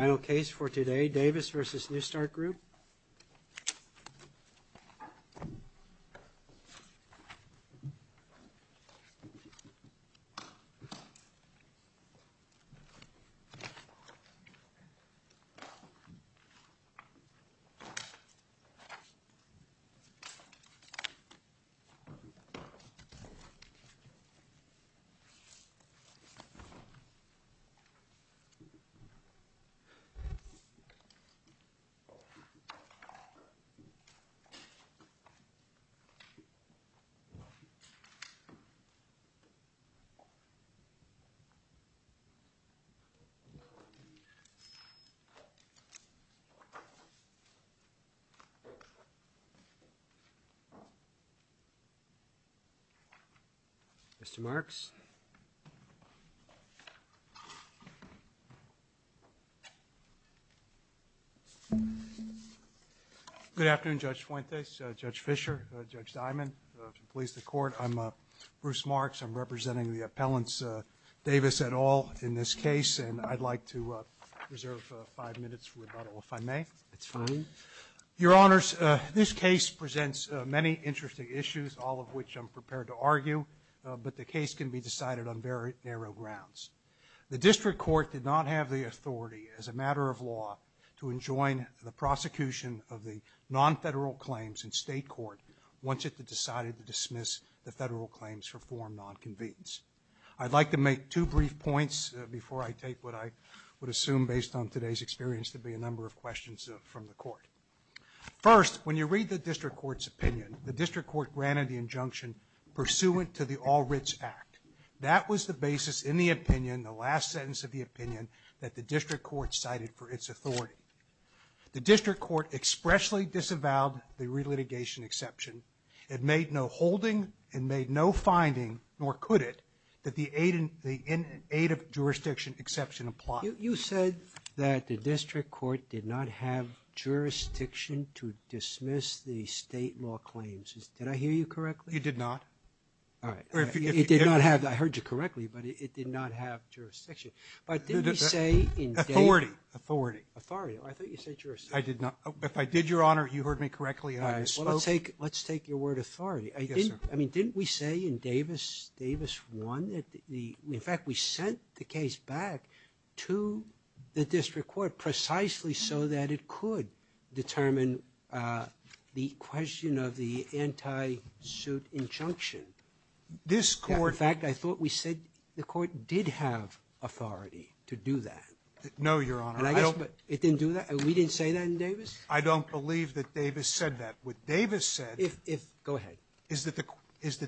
Intl case for today. Davis v. New Start Grpetal. New Start Group. Mr. Good afternoon, Judge Fuentes, Judge Fischer, Judge Dimond. If you'll please the court, I'm Bruce Marks. I'm representing the appellants, Davis et al., in this case, and I'd like to reserve five minutes for rebuttal, if I may. It's fine. Your Honors, this case presents many interesting issues, all of which I'm prepared to argue, but the case can be decided on very narrow grounds. The district court did not have the authority, as a matter of law, to enjoin the prosecution of the non-federal claims, and state court wanted to decide to dismiss the federal claims for form non-convenience. I'd like to make two brief points before I take what I would assume, based on today's experience, to be a number of questions from the court. First, when you read the district court's opinion, the district court granted the injunction pursuant to the All Writs Act. That was the basis in the opinion, the last sentence of the opinion, that the district court cited for its authority. The district court expressly disavowed the relitigation exception. It made no holding and made no finding, nor could it, that the aid of jurisdiction exception applied. You said that the district court did not have jurisdiction to dismiss the state law claims. Did I hear you correctly? You did not. All right. I heard you correctly, but it did not have jurisdiction. But did we say in Davis... Authority. Authority. I thought you said jurisdiction. I did not. If I did, Your Honor, you heard me correctly. All right. Well, let's take your word authority. Yes, sir. I mean, didn't we say in Davis 1 that the... In fact, we sent the case back to the district court, precisely so that it could determine the question of the anti-suit injunction. This court... In fact, I thought we said the court did have authority to do that. No, Your Honor. It didn't do that? We didn't say that in Davis? I don't believe that Davis said that. What Davis said... If... Go ahead. Is that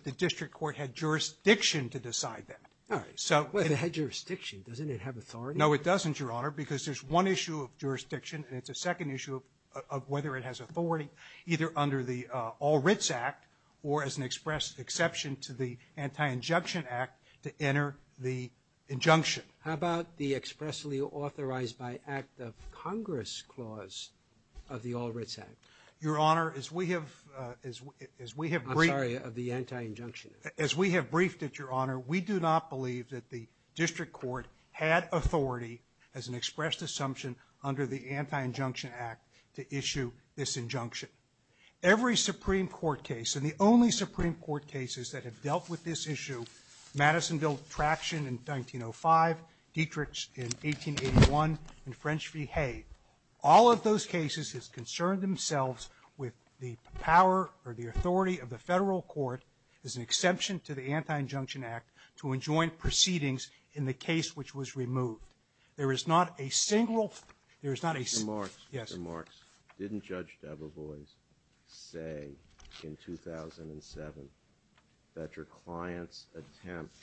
the district court had jurisdiction to decide that. All right. Well, if it had jurisdiction, doesn't it have authority? No, it doesn't, Your Honor. Because there's one issue of jurisdiction, and it's a second issue of whether it has authority either under the All Writs Act or as an express exception to the Anti-Injunction Act to enter the injunction. How about the expressly authorized by act of Congress clause of the All Writs Act? Your Honor, as we have... I'm sorry, of the Anti-Injunction Act. As we have briefed it, Your Honor, we do not believe that the district court had authority as an expressed assumption under the Anti-Injunction Act to issue this injunction. Every Supreme Court case, and the only Supreme Court cases that have dealt with this issue, Madisonville Traction in 1905, Dietrich in 1881, and French v. Hay, all of those cases has concerned themselves with the power or the authority of the federal court as an exception to the Anti-Injunction Act to enjoin proceedings in the case which was removed. There is not a single... There is not a... Mr. Marks, didn't Judge Debevoise say in 2007 that your client's attempt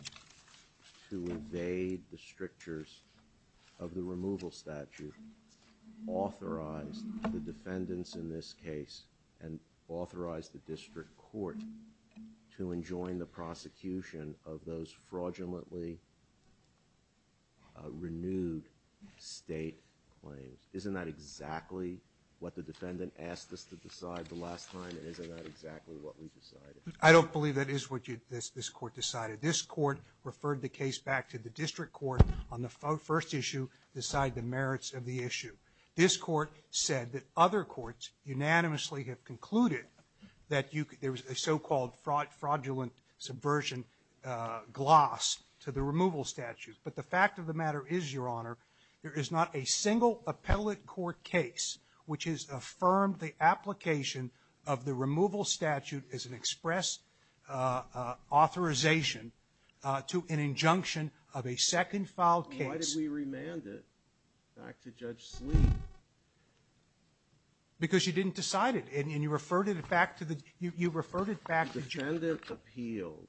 to evade the strictures of the removal statute authorized the defendants in this case and authorized the district court to enjoin the prosecution of those fraudulently renewed state claims? Isn't that exactly what the defendant asked us to decide the last time, and isn't that exactly what we decided? I don't believe that is what this court decided. This court referred the case back to the district court on the first issue, decide the merits of the issue. This court said that other courts unanimously have concluded that there was a so-called fraudulent subversion gloss to the removal statute. But the fact of the matter is, Your Honor, there is not a single appellate court case which has affirmed the application of the removal statute as an express authorization to an injunction of a second filed case. Why did we remand it back to Judge Sleeve? Because you didn't decide it, and you referred it back to the district court. The defendant appealed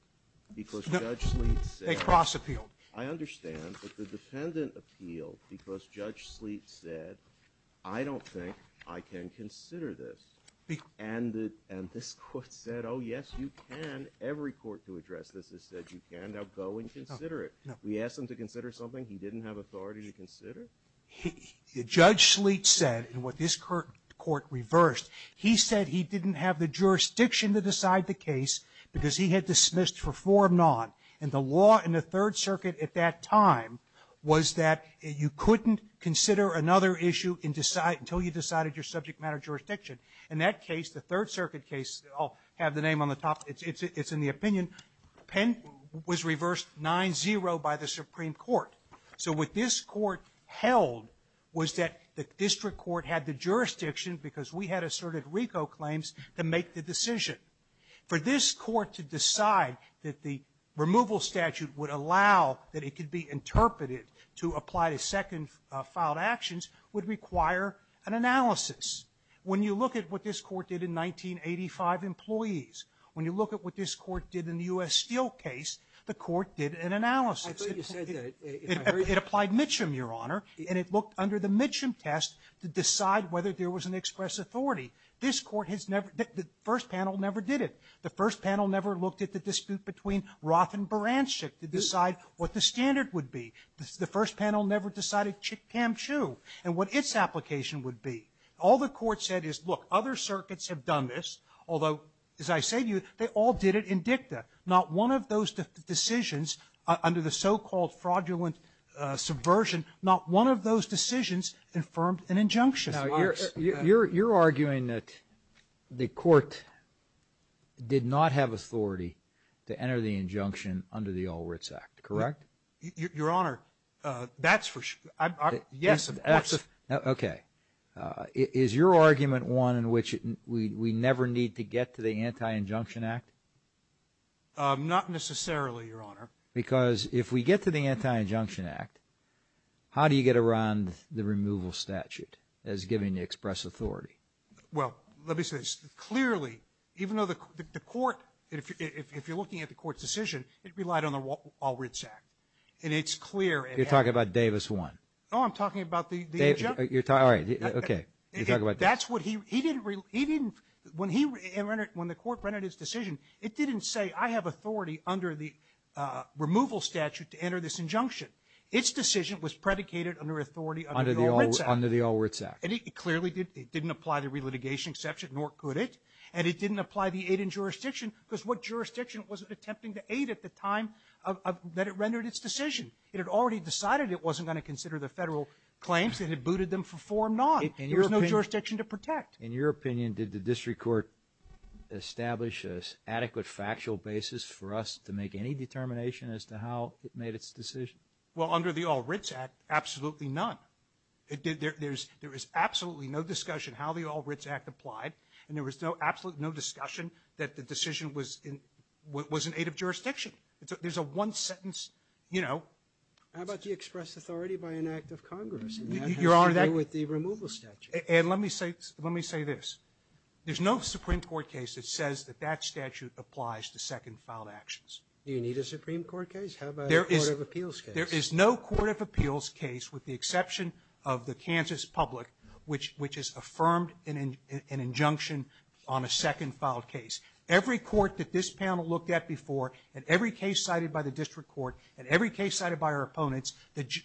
because Judge Sleeve said. They cross-appealed. I understand. But the defendant appealed because Judge Sleeve said, I don't think I can consider this. And this court said, oh, yes, you can. Every court to address this has said you can. We asked him to consider something he didn't have authority to consider? Judge Sleeve said, and what this court reversed, he said he didn't have the jurisdiction to decide the case because he had dismissed for forum non. And the law in the Third Circuit at that time was that you couldn't consider another issue until you decided your subject matter jurisdiction. In that case, the Third Circuit case, I'll have the name on the top, it's in the opinion, was reversed 9-0 by the Supreme Court. So what this court held was that the district court had the jurisdiction because we had asserted RICO claims to make the decision. For this court to decide that the removal statute would allow that it could be interpreted to apply to second-filed actions would require an analysis. When you look at what this court did in 1985 employees, when you look at what this court did in the U.S. Steel case, the court did an analysis. It applied Mitchum, Your Honor. And it looked under the Mitchum test to decide whether there was an express authority. This court has never, the first panel never did it. The first panel never looked at the dispute between Roth and Baranchik to decide what the standard would be. The first panel never decided Chick-Cam-Chu and what its application would be. All the court said is, look, other circuits have done this, although, as I say to you, they all did it in dicta. Not one of those decisions, under the so-called fraudulent subversion, not one of those decisions affirmed an injunction. Now, you're arguing that the court did not have authority to enter the injunction under the All Writs Act, correct? Your Honor, that's for sure. Yes, of course. Okay. Is your argument one in which we never need to get to the Anti-Injunction Act? Not necessarily, Your Honor. Because if we get to the Anti-Injunction Act, how do you get around the removal statute as giving the express authority? Well, let me say this. Clearly, even though the court, if you're looking at the court's decision, it relied on the All Writs Act. And it's clear. You're talking about Davis 1. No, I'm talking about the injunction. All right, okay. You're talking about Davis. That's what he, he didn't, he didn't, when he, when the court rendered his decision, it didn't say I have authority under the removal statute to enter this injunction. Its decision was predicated under authority under the All Writs Act. Under the All Writs Act. And it clearly didn't apply the relitigation exception, nor could it. And it didn't apply the aid and jurisdiction because what jurisdiction was it attempting to aid at the time that it rendered its decision? It had already decided it wasn't going to consider the federal claims. It had booted them for form non. There was no jurisdiction to protect. In your opinion, did the district court establish an adequate factual basis for us to make any determination as to how it made its decision? Well, under the All Writs Act, absolutely none. It did, there's, there is absolutely no discussion how the All Writs Act applied. And there was no, absolutely no discussion that the decision was in, was in aid of jurisdiction. There's a one sentence, you know. How about the express authority by an act of Congress? Your Honor, that. And that has to do with the removal statute. And let me say, let me say this. There's no Supreme Court case that says that that statute applies to second-filed actions. Do you need a Supreme Court case? How about a court of appeals case? There is no court of appeals case with the exception of the Kansas public which, which is affirmed in an injunction on a second-filed case. Every court that this panel looked at before, and every case cited by the district court, and every case cited by our opponents,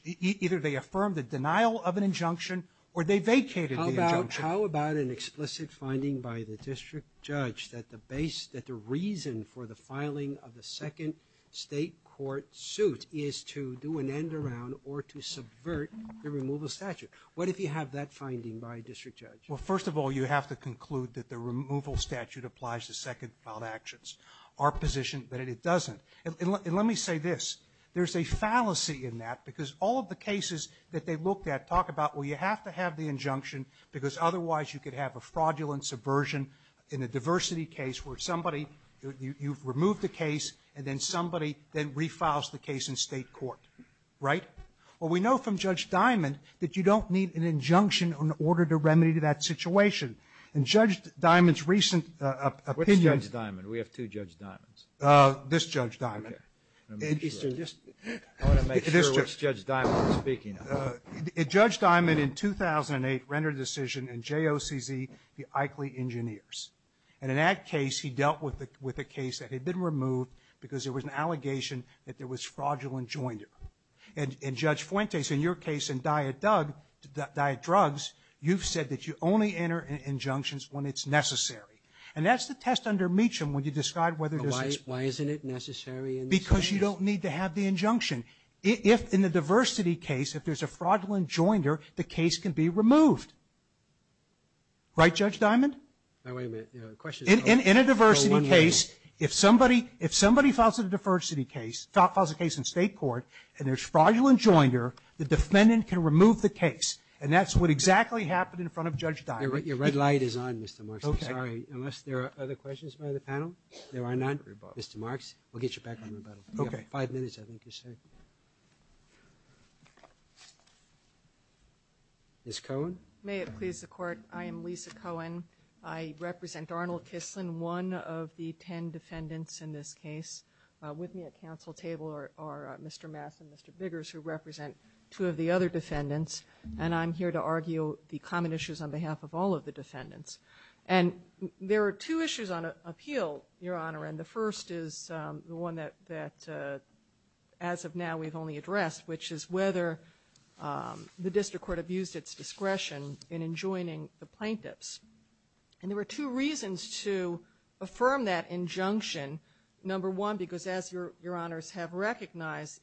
either they affirmed the denial of an injunction or they vacated the injunction. How about, how about an explicit finding by the district judge that the base, that the reason for the filing of the second state court suit is to do an end around or to subvert the removal statute? What if you have that finding by a district judge? Well, first of all, you have to conclude that the removal statute applies to second-filed actions. Our position that it doesn't. And let me say this. There's a fallacy in that because all of the cases that they looked at talk about, well, you have to have the injunction because otherwise you could have a fraudulent subversion in a diversity case where somebody, you've removed the case and then somebody then refiles the case in state court. Right? Well, we know from Judge Diamond that you don't need an injunction in order to remedy that situation. And Judge Diamond's recent opinion. What's Judge Diamond? We have two Judge Diamonds. This Judge Diamond. I want to make sure which Judge Diamond you're speaking of. Judge Diamond in 2008 rendered a decision in JOCZ, the Eichle Engineers. And in that case, he dealt with a case that had been removed because there was an allegation that there was fraudulent joinder. And Judge Fuentes, in your case in Diet Drugs, you've said that you only enter injunctions when it's necessary. And that's the test under Meacham when you describe whether there's an explanation. Why isn't it necessary in this case? Because you don't need to have the injunction. If in the diversity case, if there's a fraudulent joinder, the case can be removed. Right, Judge Diamond? Now, wait a minute. The question is... In a diversity case, if somebody files a diversity case, files a case in state court, and there's fraudulent joinder, the defendant can remove the case. And that's what exactly happened in front of Judge Diamond. Your red light is on, Mr. Marks. I'm sorry. Unless there are other questions by the panel? There are none. Mr. Marks, we'll get you back on rebuttal. Okay. You have five minutes, I think you said. Ms. Cohen? May it please the Court, I am Lisa Cohen. I represent Arnold Kislin, one of the ten defendants in this case. With me at council table are Mr. Mass and Mr. Biggers, who represent two of the other defendants. And I'm here to argue the common issues on behalf of all of the defendants. And there are two issues on appeal, Your Honor, and the first is the one that as of now we've only addressed, which is whether the district court abused its discretion in enjoining the plaintiffs. And there were two reasons to affirm that injunction. Number one, because as Your Honors have recognized,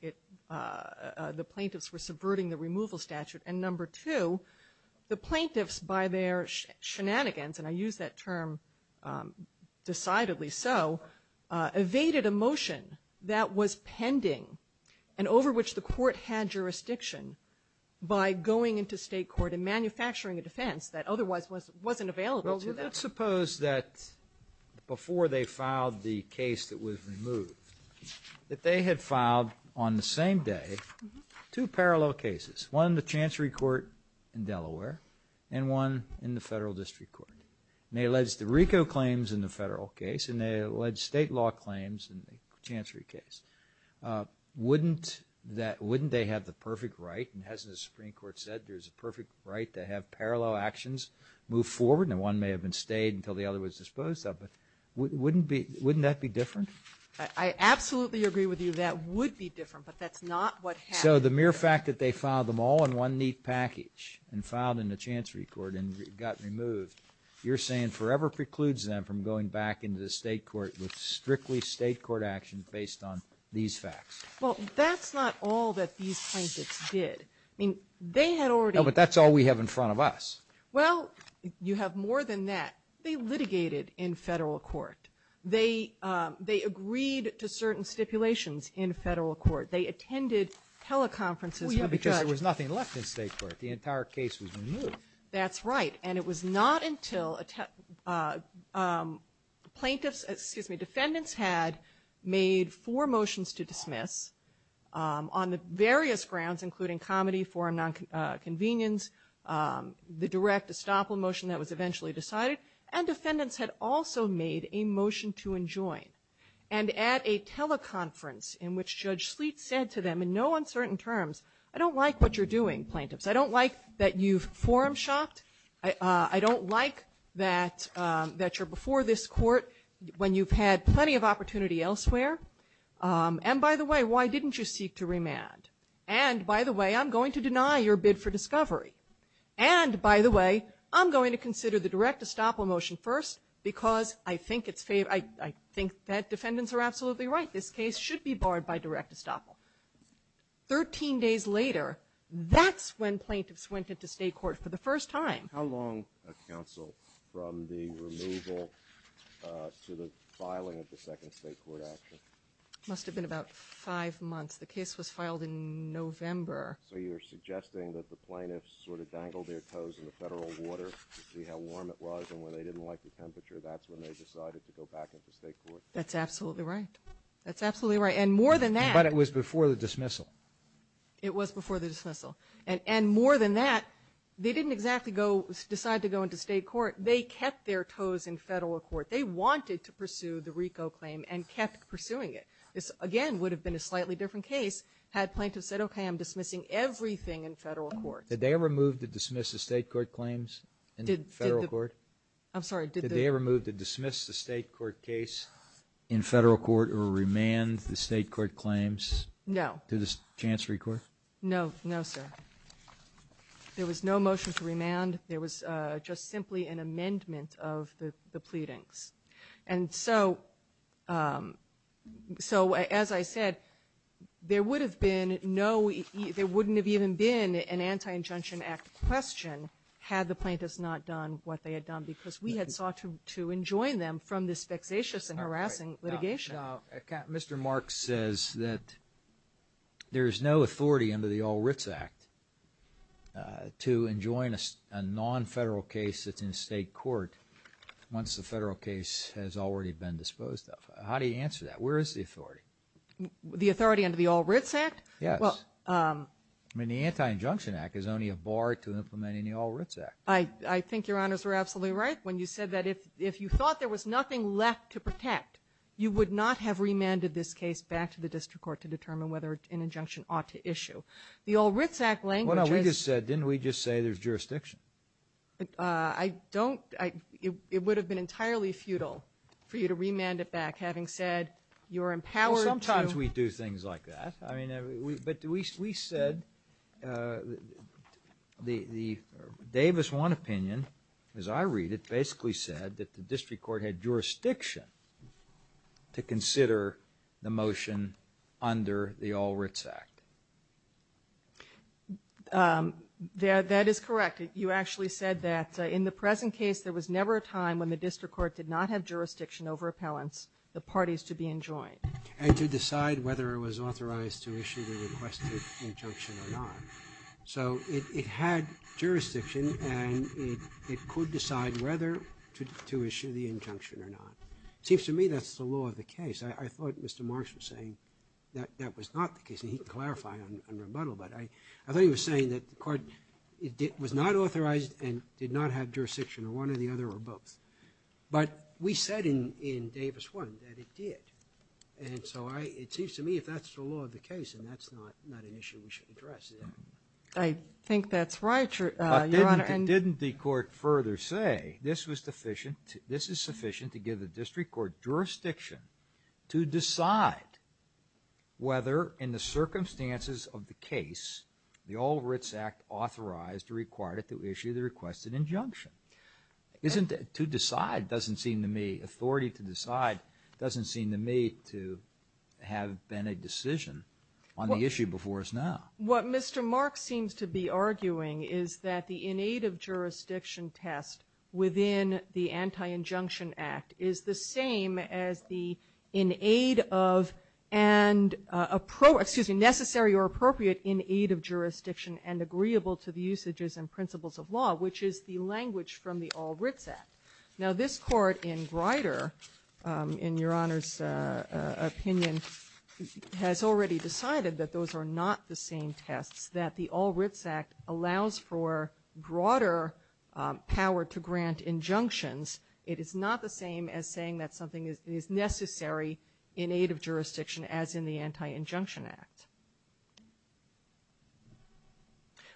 the plaintiffs were subverting the removal statute. And number two, the plaintiffs, by their shenanigans, and I use that term decidedly so, evaded a motion that was pending and over which the court had jurisdiction by going into state court and manufacturing a defense that otherwise wasn't available to them. Well, let's suppose that before they filed the case that was removed, that they had filed on the same day two parallel cases, one in the Chancery Court in Delaware and one in the federal district court. And they alleged the RICO claims in the federal case and they alleged state law claims in the Chancery case. Wouldn't they have the perfect right, and hasn't the Supreme Court said there's a perfect right to have parallel actions move forward? Now, one may have been stayed until the other was disposed of, but wouldn't that be different? I absolutely agree with you that would be different, but that's not what happened. So the mere fact that they filed them all in one neat package and filed in the Chancery Court and got removed, you're saying forever precludes them from going back into the state court with strictly state court action based on these facts. Well, that's not all that these plaintiffs did. I mean, they had already... No, but that's all we have in front of us. Well, you have more than that. They litigated in federal court. They agreed to certain stipulations in federal court. They attended teleconferences... Well, yeah, because there was nothing left in state court. The entire case was removed. That's right. And it was not until plaintiffs, excuse me, defendants had made four motions to dismiss on the various grounds including comedy, forum nonconvenience, the direct estoppel motion that was eventually decided, and defendants had also made a motion to enjoin. And at a teleconference in which Judge Sleet said to them in no uncertain terms, I don't like what you're doing, plaintiffs. I don't like that you've forum shopped. I don't like that you're before this court when you've had plenty of opportunity elsewhere. And, by the way, why didn't you seek to remand? And, by the way, I'm going to deny your bid for discovery. And, by the way, I'm going to consider the direct estoppel motion first because I think that defendants are absolutely right. This case should be barred by direct estoppel. Thirteen days later, that's when plaintiffs went into state court for the first time. How long, counsel, from the removal to the filing of the second state court action? Must have been about five months. The case was filed in November. So you're suggesting that the plaintiffs sort of dangled their toes in the federal water to see how warm it was, and when they didn't like the temperature, that's when they decided to go back into state court? That's absolutely right. That's absolutely right. And more than that... But it was before the dismissal. It was before the dismissal. And more than that, they didn't exactly decide to go into state court. They kept their toes in federal court. They wanted to pursue the RICO claim and kept pursuing it. This, again, would have been a slightly different case had plaintiffs said, okay, I'm dismissing everything in federal court. Did they ever move to dismiss the state court claims in federal court? I'm sorry, did they... Did they ever move to dismiss the state court case in federal court or remand the state court claims? No. To the Chancery Court? No, no, sir. There was no motion to remand. There was just simply an amendment of the pleadings. And so, as I said, there would have been no... There wouldn't have even been an Anti-Injunction Act question had the plaintiffs not done what they had done because we had sought to enjoin them from this vexatious and harassing litigation. Mr. Marks says that there is no authority under the All Writs Act to enjoin a non-federal case that's in state court once the federal case has already been disposed of. How do you answer that? Where is the authority? The authority under the All Writs Act? Yes. I mean, the Anti-Injunction Act is only a bar to implementing the All Writs Act. I think Your Honors are absolutely right when you said that if you thought there was nothing left to protect, you would not have remanded this case back to the district court to determine whether an injunction ought to issue. The All Writs Act language is... Well, now, we just said, didn't we just say there's jurisdiction? I don't... It would have been entirely futile for you to remand it back having said you're empowered to... Well, sometimes we do things like that. I mean, but we said the Davis One opinion, as I read it, basically said that the district court had jurisdiction to consider the motion under the All Writs Act. That is correct. You actually said that in the present case, there was never a time when the district court did not have jurisdiction over appellants, the parties to be enjoined. And to decide whether it was authorized to issue the requested injunction or not. So it had jurisdiction and it could decide whether to issue the injunction or not. It seems to me that's the law of the case. I thought Mr. Marks was saying that that was not the case and he could clarify on rebuttal, but I thought he was saying that the court was not authorized and did not have jurisdiction or one or the other or both. But we said in Davis One that it did. And so it seems to me if that's the law of the case then that's not an issue we should address. I think that's right. But didn't the court further say this is sufficient to give the district court jurisdiction to decide whether in the circumstances of the case the All Writs Act authorized or required it to issue the requested injunction. To decide doesn't seem to me, authority to decide doesn't seem to me to have been a decision on the issue before us now. What Mr. Marks seems to be arguing is that the in-aid of jurisdiction test within the Anti-Injunction Act is the same as the in-aid of and necessary or appropriate in-aid of jurisdiction and agreeable to the usages and principles of law, which is the language from the All Writs Act. Now this court in Grider, in Your Honor's opinion, has already decided that those are not the same tests, that the All Writs Act allows for broader power to grant injunctions. It is not the same as saying that something is necessary in aid of jurisdiction as in the Anti-Injunction Act.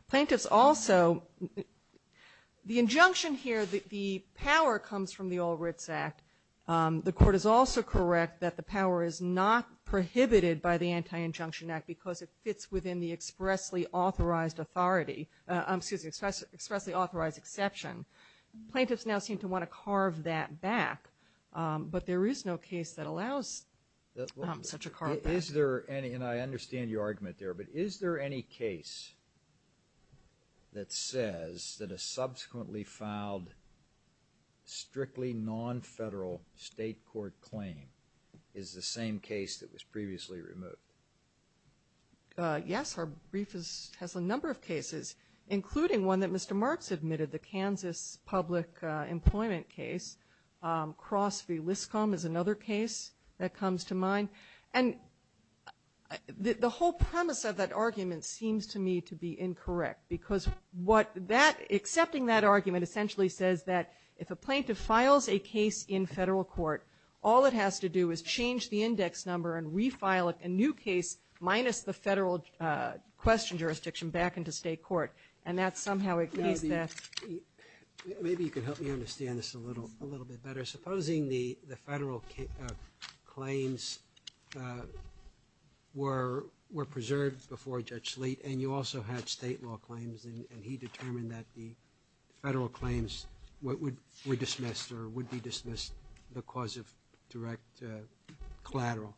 Plaintiffs also, the injunction here, the power comes from the All Writs Act. The court is also correct that the power is not prohibited by the Anti-Injunction Act because it fits within the expressly authorized authority, excuse me, expressly authorized exception. Plaintiffs now seem to want to carve that back, but there is no case that allows such a carve back. Is there any, and I understand your argument there, but is there any case that says that a subsequently filed strictly non-federal state court claim is the same case that was previously removed? Yes, our brief has a number of cases, including one that Mr. Marks admitted, the Kansas public employment case. Cross v. Liskom is another case that comes to mind. And the whole premise of that argument seems to me to be incorrect because what that, accepting that argument essentially says that if a plaintiff files a case in federal court, all it has to do is change the index number and refile a new case minus the federal question jurisdiction back into state court. And that somehow agrees that. Maybe you could help me understand this a little bit better. Supposing the federal claims were preserved before Judge Slate and you also had state law claims and he determined that the federal claims were dismissed or would be dismissed because of direct collateral.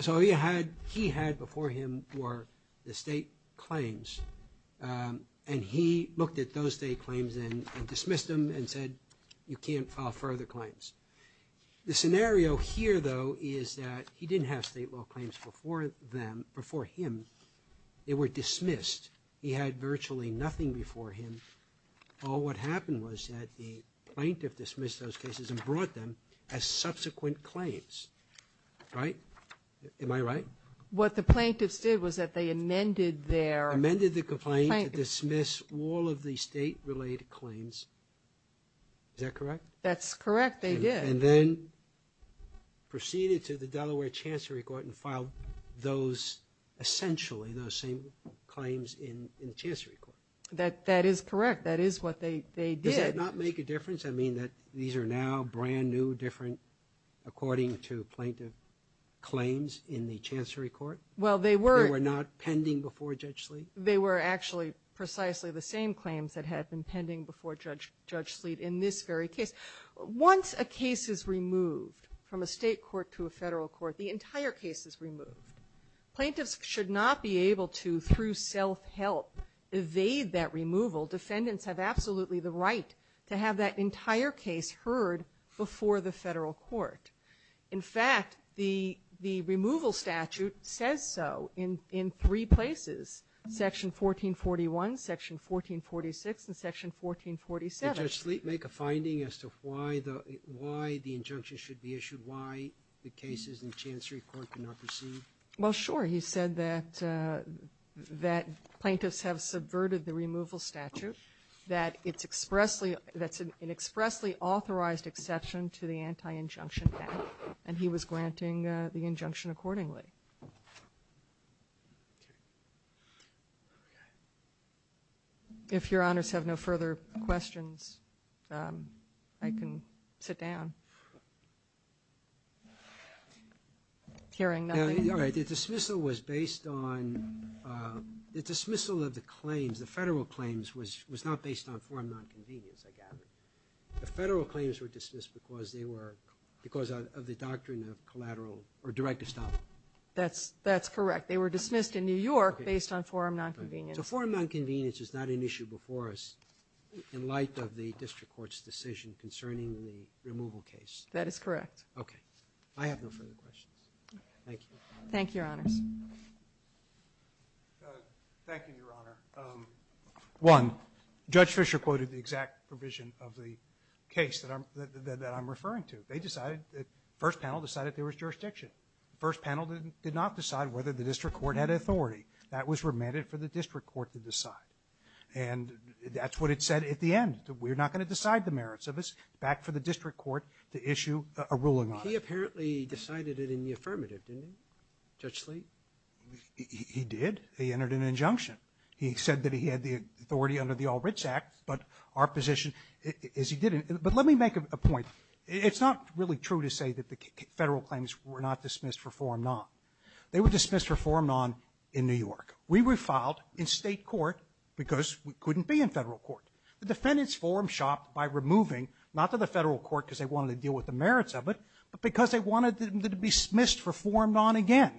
So he had before him were the state claims and he looked at those state claims and dismissed them and said, you can't file further claims. The scenario here though is that he didn't have state law claims before him. They were dismissed. He had virtually nothing before him. All what happened was that the plaintiff dismissed those cases and brought them as subsequent claims, right? Am I right? What the plaintiffs did was that they amended their... Amended the complaint to dismiss all of the state-related claims. Is that correct? That's correct, they did. And then proceeded to the Delaware Chancery Court and filed those, essentially those same claims in the Chancery Court. That is correct. That is what they did. Does that not make a difference? I mean that these are now brand new, different according to plaintiff claims in the Chancery Court? Well, they were... They were not pending before Judge Slate? They were actually precisely the same claims that had been pending before Judge Slate in this very case. Once a case is removed from a State court to a Federal court, the entire case is removed. Plaintiffs should not be able to, through self-help, evade that removal. Defendants have absolutely the right to have that entire case heard before the Federal court. In fact, the removal statute says so in three places, Section 1441, Section 1446, and Section 1447. Did Judge Slate make a finding as to why the injunction should be issued, why the cases in the Chancery Court cannot proceed? Well, sure. He said that plaintiffs have subverted the removal statute, that it's expressly, that's an expressly authorized exception to the Anti-Injunction Act, and he was granting the injunction accordingly. Okay. Okay. If Your Honors have no further questions, I can sit down. Hearing nothing. You're right. The dismissal was based on, the dismissal of the claims, the Federal claims, was not based on foreign nonconvenience, I gather. The Federal claims were dismissed because they were, because of the doctrine of collateral, or direct estoppel. That's correct. They were dismissed in New York based on foreign nonconvenience. So foreign nonconvenience is not an issue before us in light of the district court's decision concerning the removal case. That is correct. Okay. I have no further questions. Thank you. Thank you, Your Honors. Thank you, Your Honor. One, Judge Fisher quoted the exact provision of the case that I'm referring to. They decided, the first panel decided there was jurisdiction. The first panel did not decide whether the district court had authority. That was remanded for the district court to decide. And that's what it said at the end. We're not going to decide the merits of this. Back for the district court to issue a ruling on it. He apparently decided it in the affirmative, didn't he? Judge Slate? He did. He entered an injunction. He said that he had the authority under the All Writs Act, but our position is he didn't. But let me make a point. It's not really true to say that the federal claims were not dismissed for forum non. They were dismissed for forum non in New York. We were filed in state court because we couldn't be in federal court. The defendants' forum shopped by removing, not to the federal court because they wanted to deal with the merits of it, but because they wanted them to be dismissed for forum non again.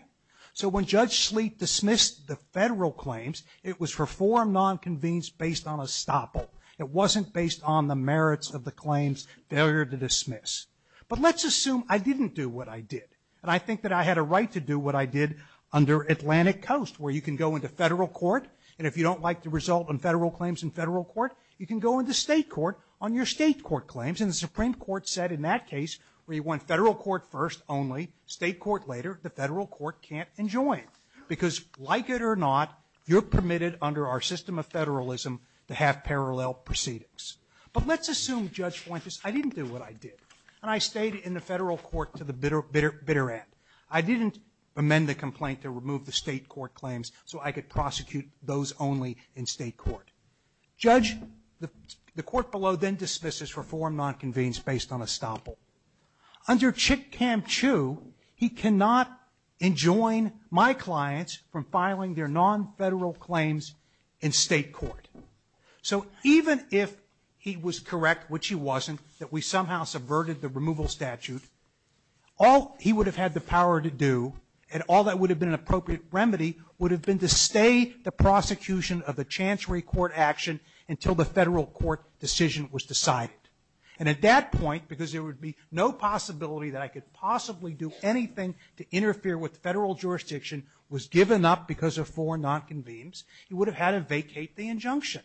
So when Judge Slate dismissed the federal claims, it was for forum non convened based on estoppel. It wasn't based on the merits of the claims, failure to dismiss. But let's assume I didn't do what I did, and I think that I had a right to do what I did under Atlantic Coast, where you can go into federal court, and if you don't like the result on federal claims in federal court, you can go into state court on your state court claims. And the Supreme Court said in that case, where you want federal court first only, state court later, the federal court can't enjoin, because like it or not, you're permitted under our system of federalism to have parallel proceedings. But let's assume, Judge Fuentes, I didn't do what I did, and I stayed in the federal court to the bitter end. I didn't amend the complaint to remove the state court claims so I could prosecute those only in state court. Judge, the court below then dismisses for forum non convened based on estoppel. Under Chick-Cam-Chu, he cannot enjoin my clients from filing their non-federal claims in state court. So even if he was correct, which he wasn't, that we somehow subverted the removal statute, all he would have had the power to do, and all that would have been an appropriate remedy, would have been to stay the prosecution of the Chancery Court action until the federal court decision was decided. And at that point, because there would be no possibility that I could possibly do anything to interfere with federal jurisdiction, was given up because of forum non convenes, he would have had to vacate the injunction.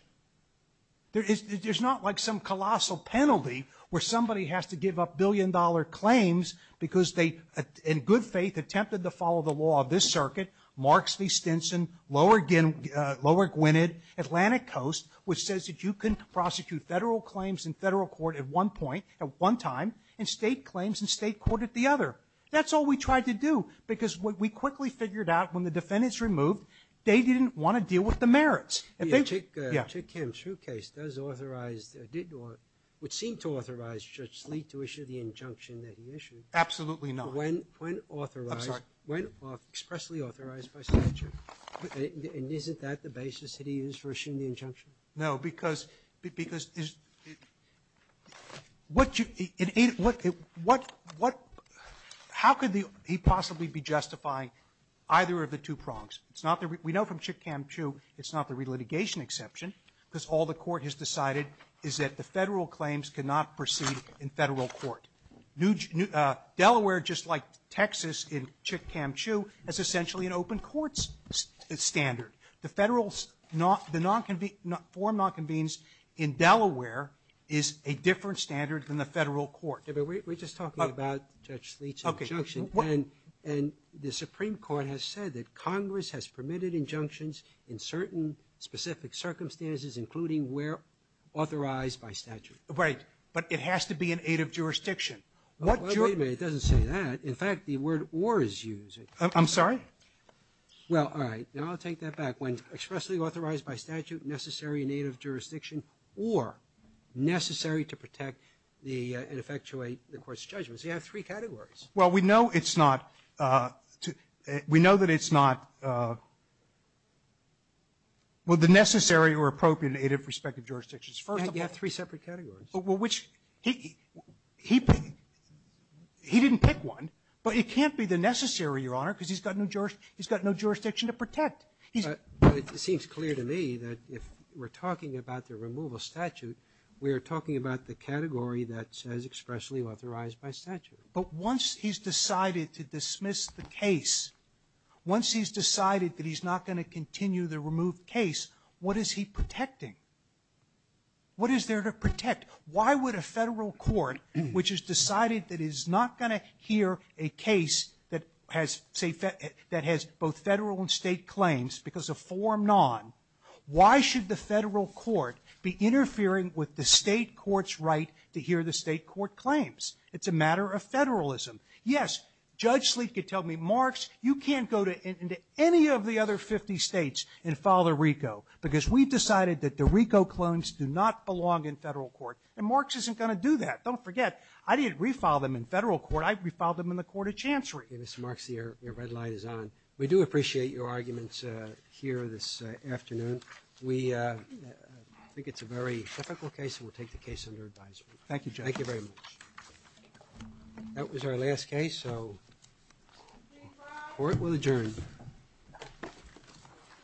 There's not like some colossal penalty where somebody has to give up billion-dollar claims because they, in good faith, attempted to follow the law of this circuit, Marks v. Stinson, lower Gwinnett, Atlantic Coast, which says that you can prosecute federal claims in federal court at one point, at one time, and state claims in state court at the other. That's all we tried to do, because what we quickly figured out, when the defendant's removed, they didn't want to deal with the merits. And they, yeah. Sotomayor, Chick Kim's true case does authorize, or would seem to authorize Judge Sleet to issue the injunction that he issued. Absolutely not. When authorized. I'm sorry. When expressly authorized by statute. And isn't that the basis that he used for issuing the injunction? No, because, because what you, what, what, how could he possibly be justifying either of the two prongs? It's not the, we know from Chick Kim Chu, it's not the relitigation exception, because all the court has decided is that the federal claims cannot proceed in federal court. Delaware, just like Texas in Chick Kim Chu, is essentially an open courts standard. The federal, the non-convene, form non-convenes in Delaware is a different standard than the federal court. Yeah, but we're just talking about Judge Sleet's injunction. Okay. And, and the Supreme Court has said that Congress has permitted injunctions in certain specific circumstances, including where authorized by statute. Right. But it has to be in aid of jurisdiction. Wait a minute, it doesn't say that. In fact, the word or is used. I'm sorry? Well, all right. Now I'll take that back. When expressly authorized by statute, necessary in aid of jurisdiction, or necessary to protect the, and effectuate the court's judgments. You have three categories. Well, we know it's not, we know that it's not, well, the necessary or appropriate in aid of respective jurisdictions. First of all. You have three separate categories. Well, which, he, he, he didn't pick one, but it can't be the necessary, Your Honor, because he's got no jurisdiction to protect. But it seems clear to me that if we're talking about the removal statute, we're talking about the category that says expressly authorized by statute. But once he's decided to dismiss the case, once he's decided that he's not going to continue the removed case, what is he protecting? What is there to protect? Why would a Federal court, which has decided that he's not going to hear a case that has, say, that has both Federal and State claims because of form non, why should the Federal court be interfering with the State court's right to hear the State court claims? It's a matter of Federalism. Yes, Judge Sleet could tell me, Marx, you can't go to any of the other 50 States and file the RICO, because we've decided that the RICO claims do not belong in Federal court. And Marx isn't going to do that. Don't forget, I didn't refile them in Federal court. I refiled them in the Court of Chancery. Okay, Mr. Marx, your red light is on. We do appreciate your arguments here this afternoon. We think it's a very typical case, and we'll take the case under advisement. Thank you, Judge. Thank you very much. That was our last case, so court will adjourn.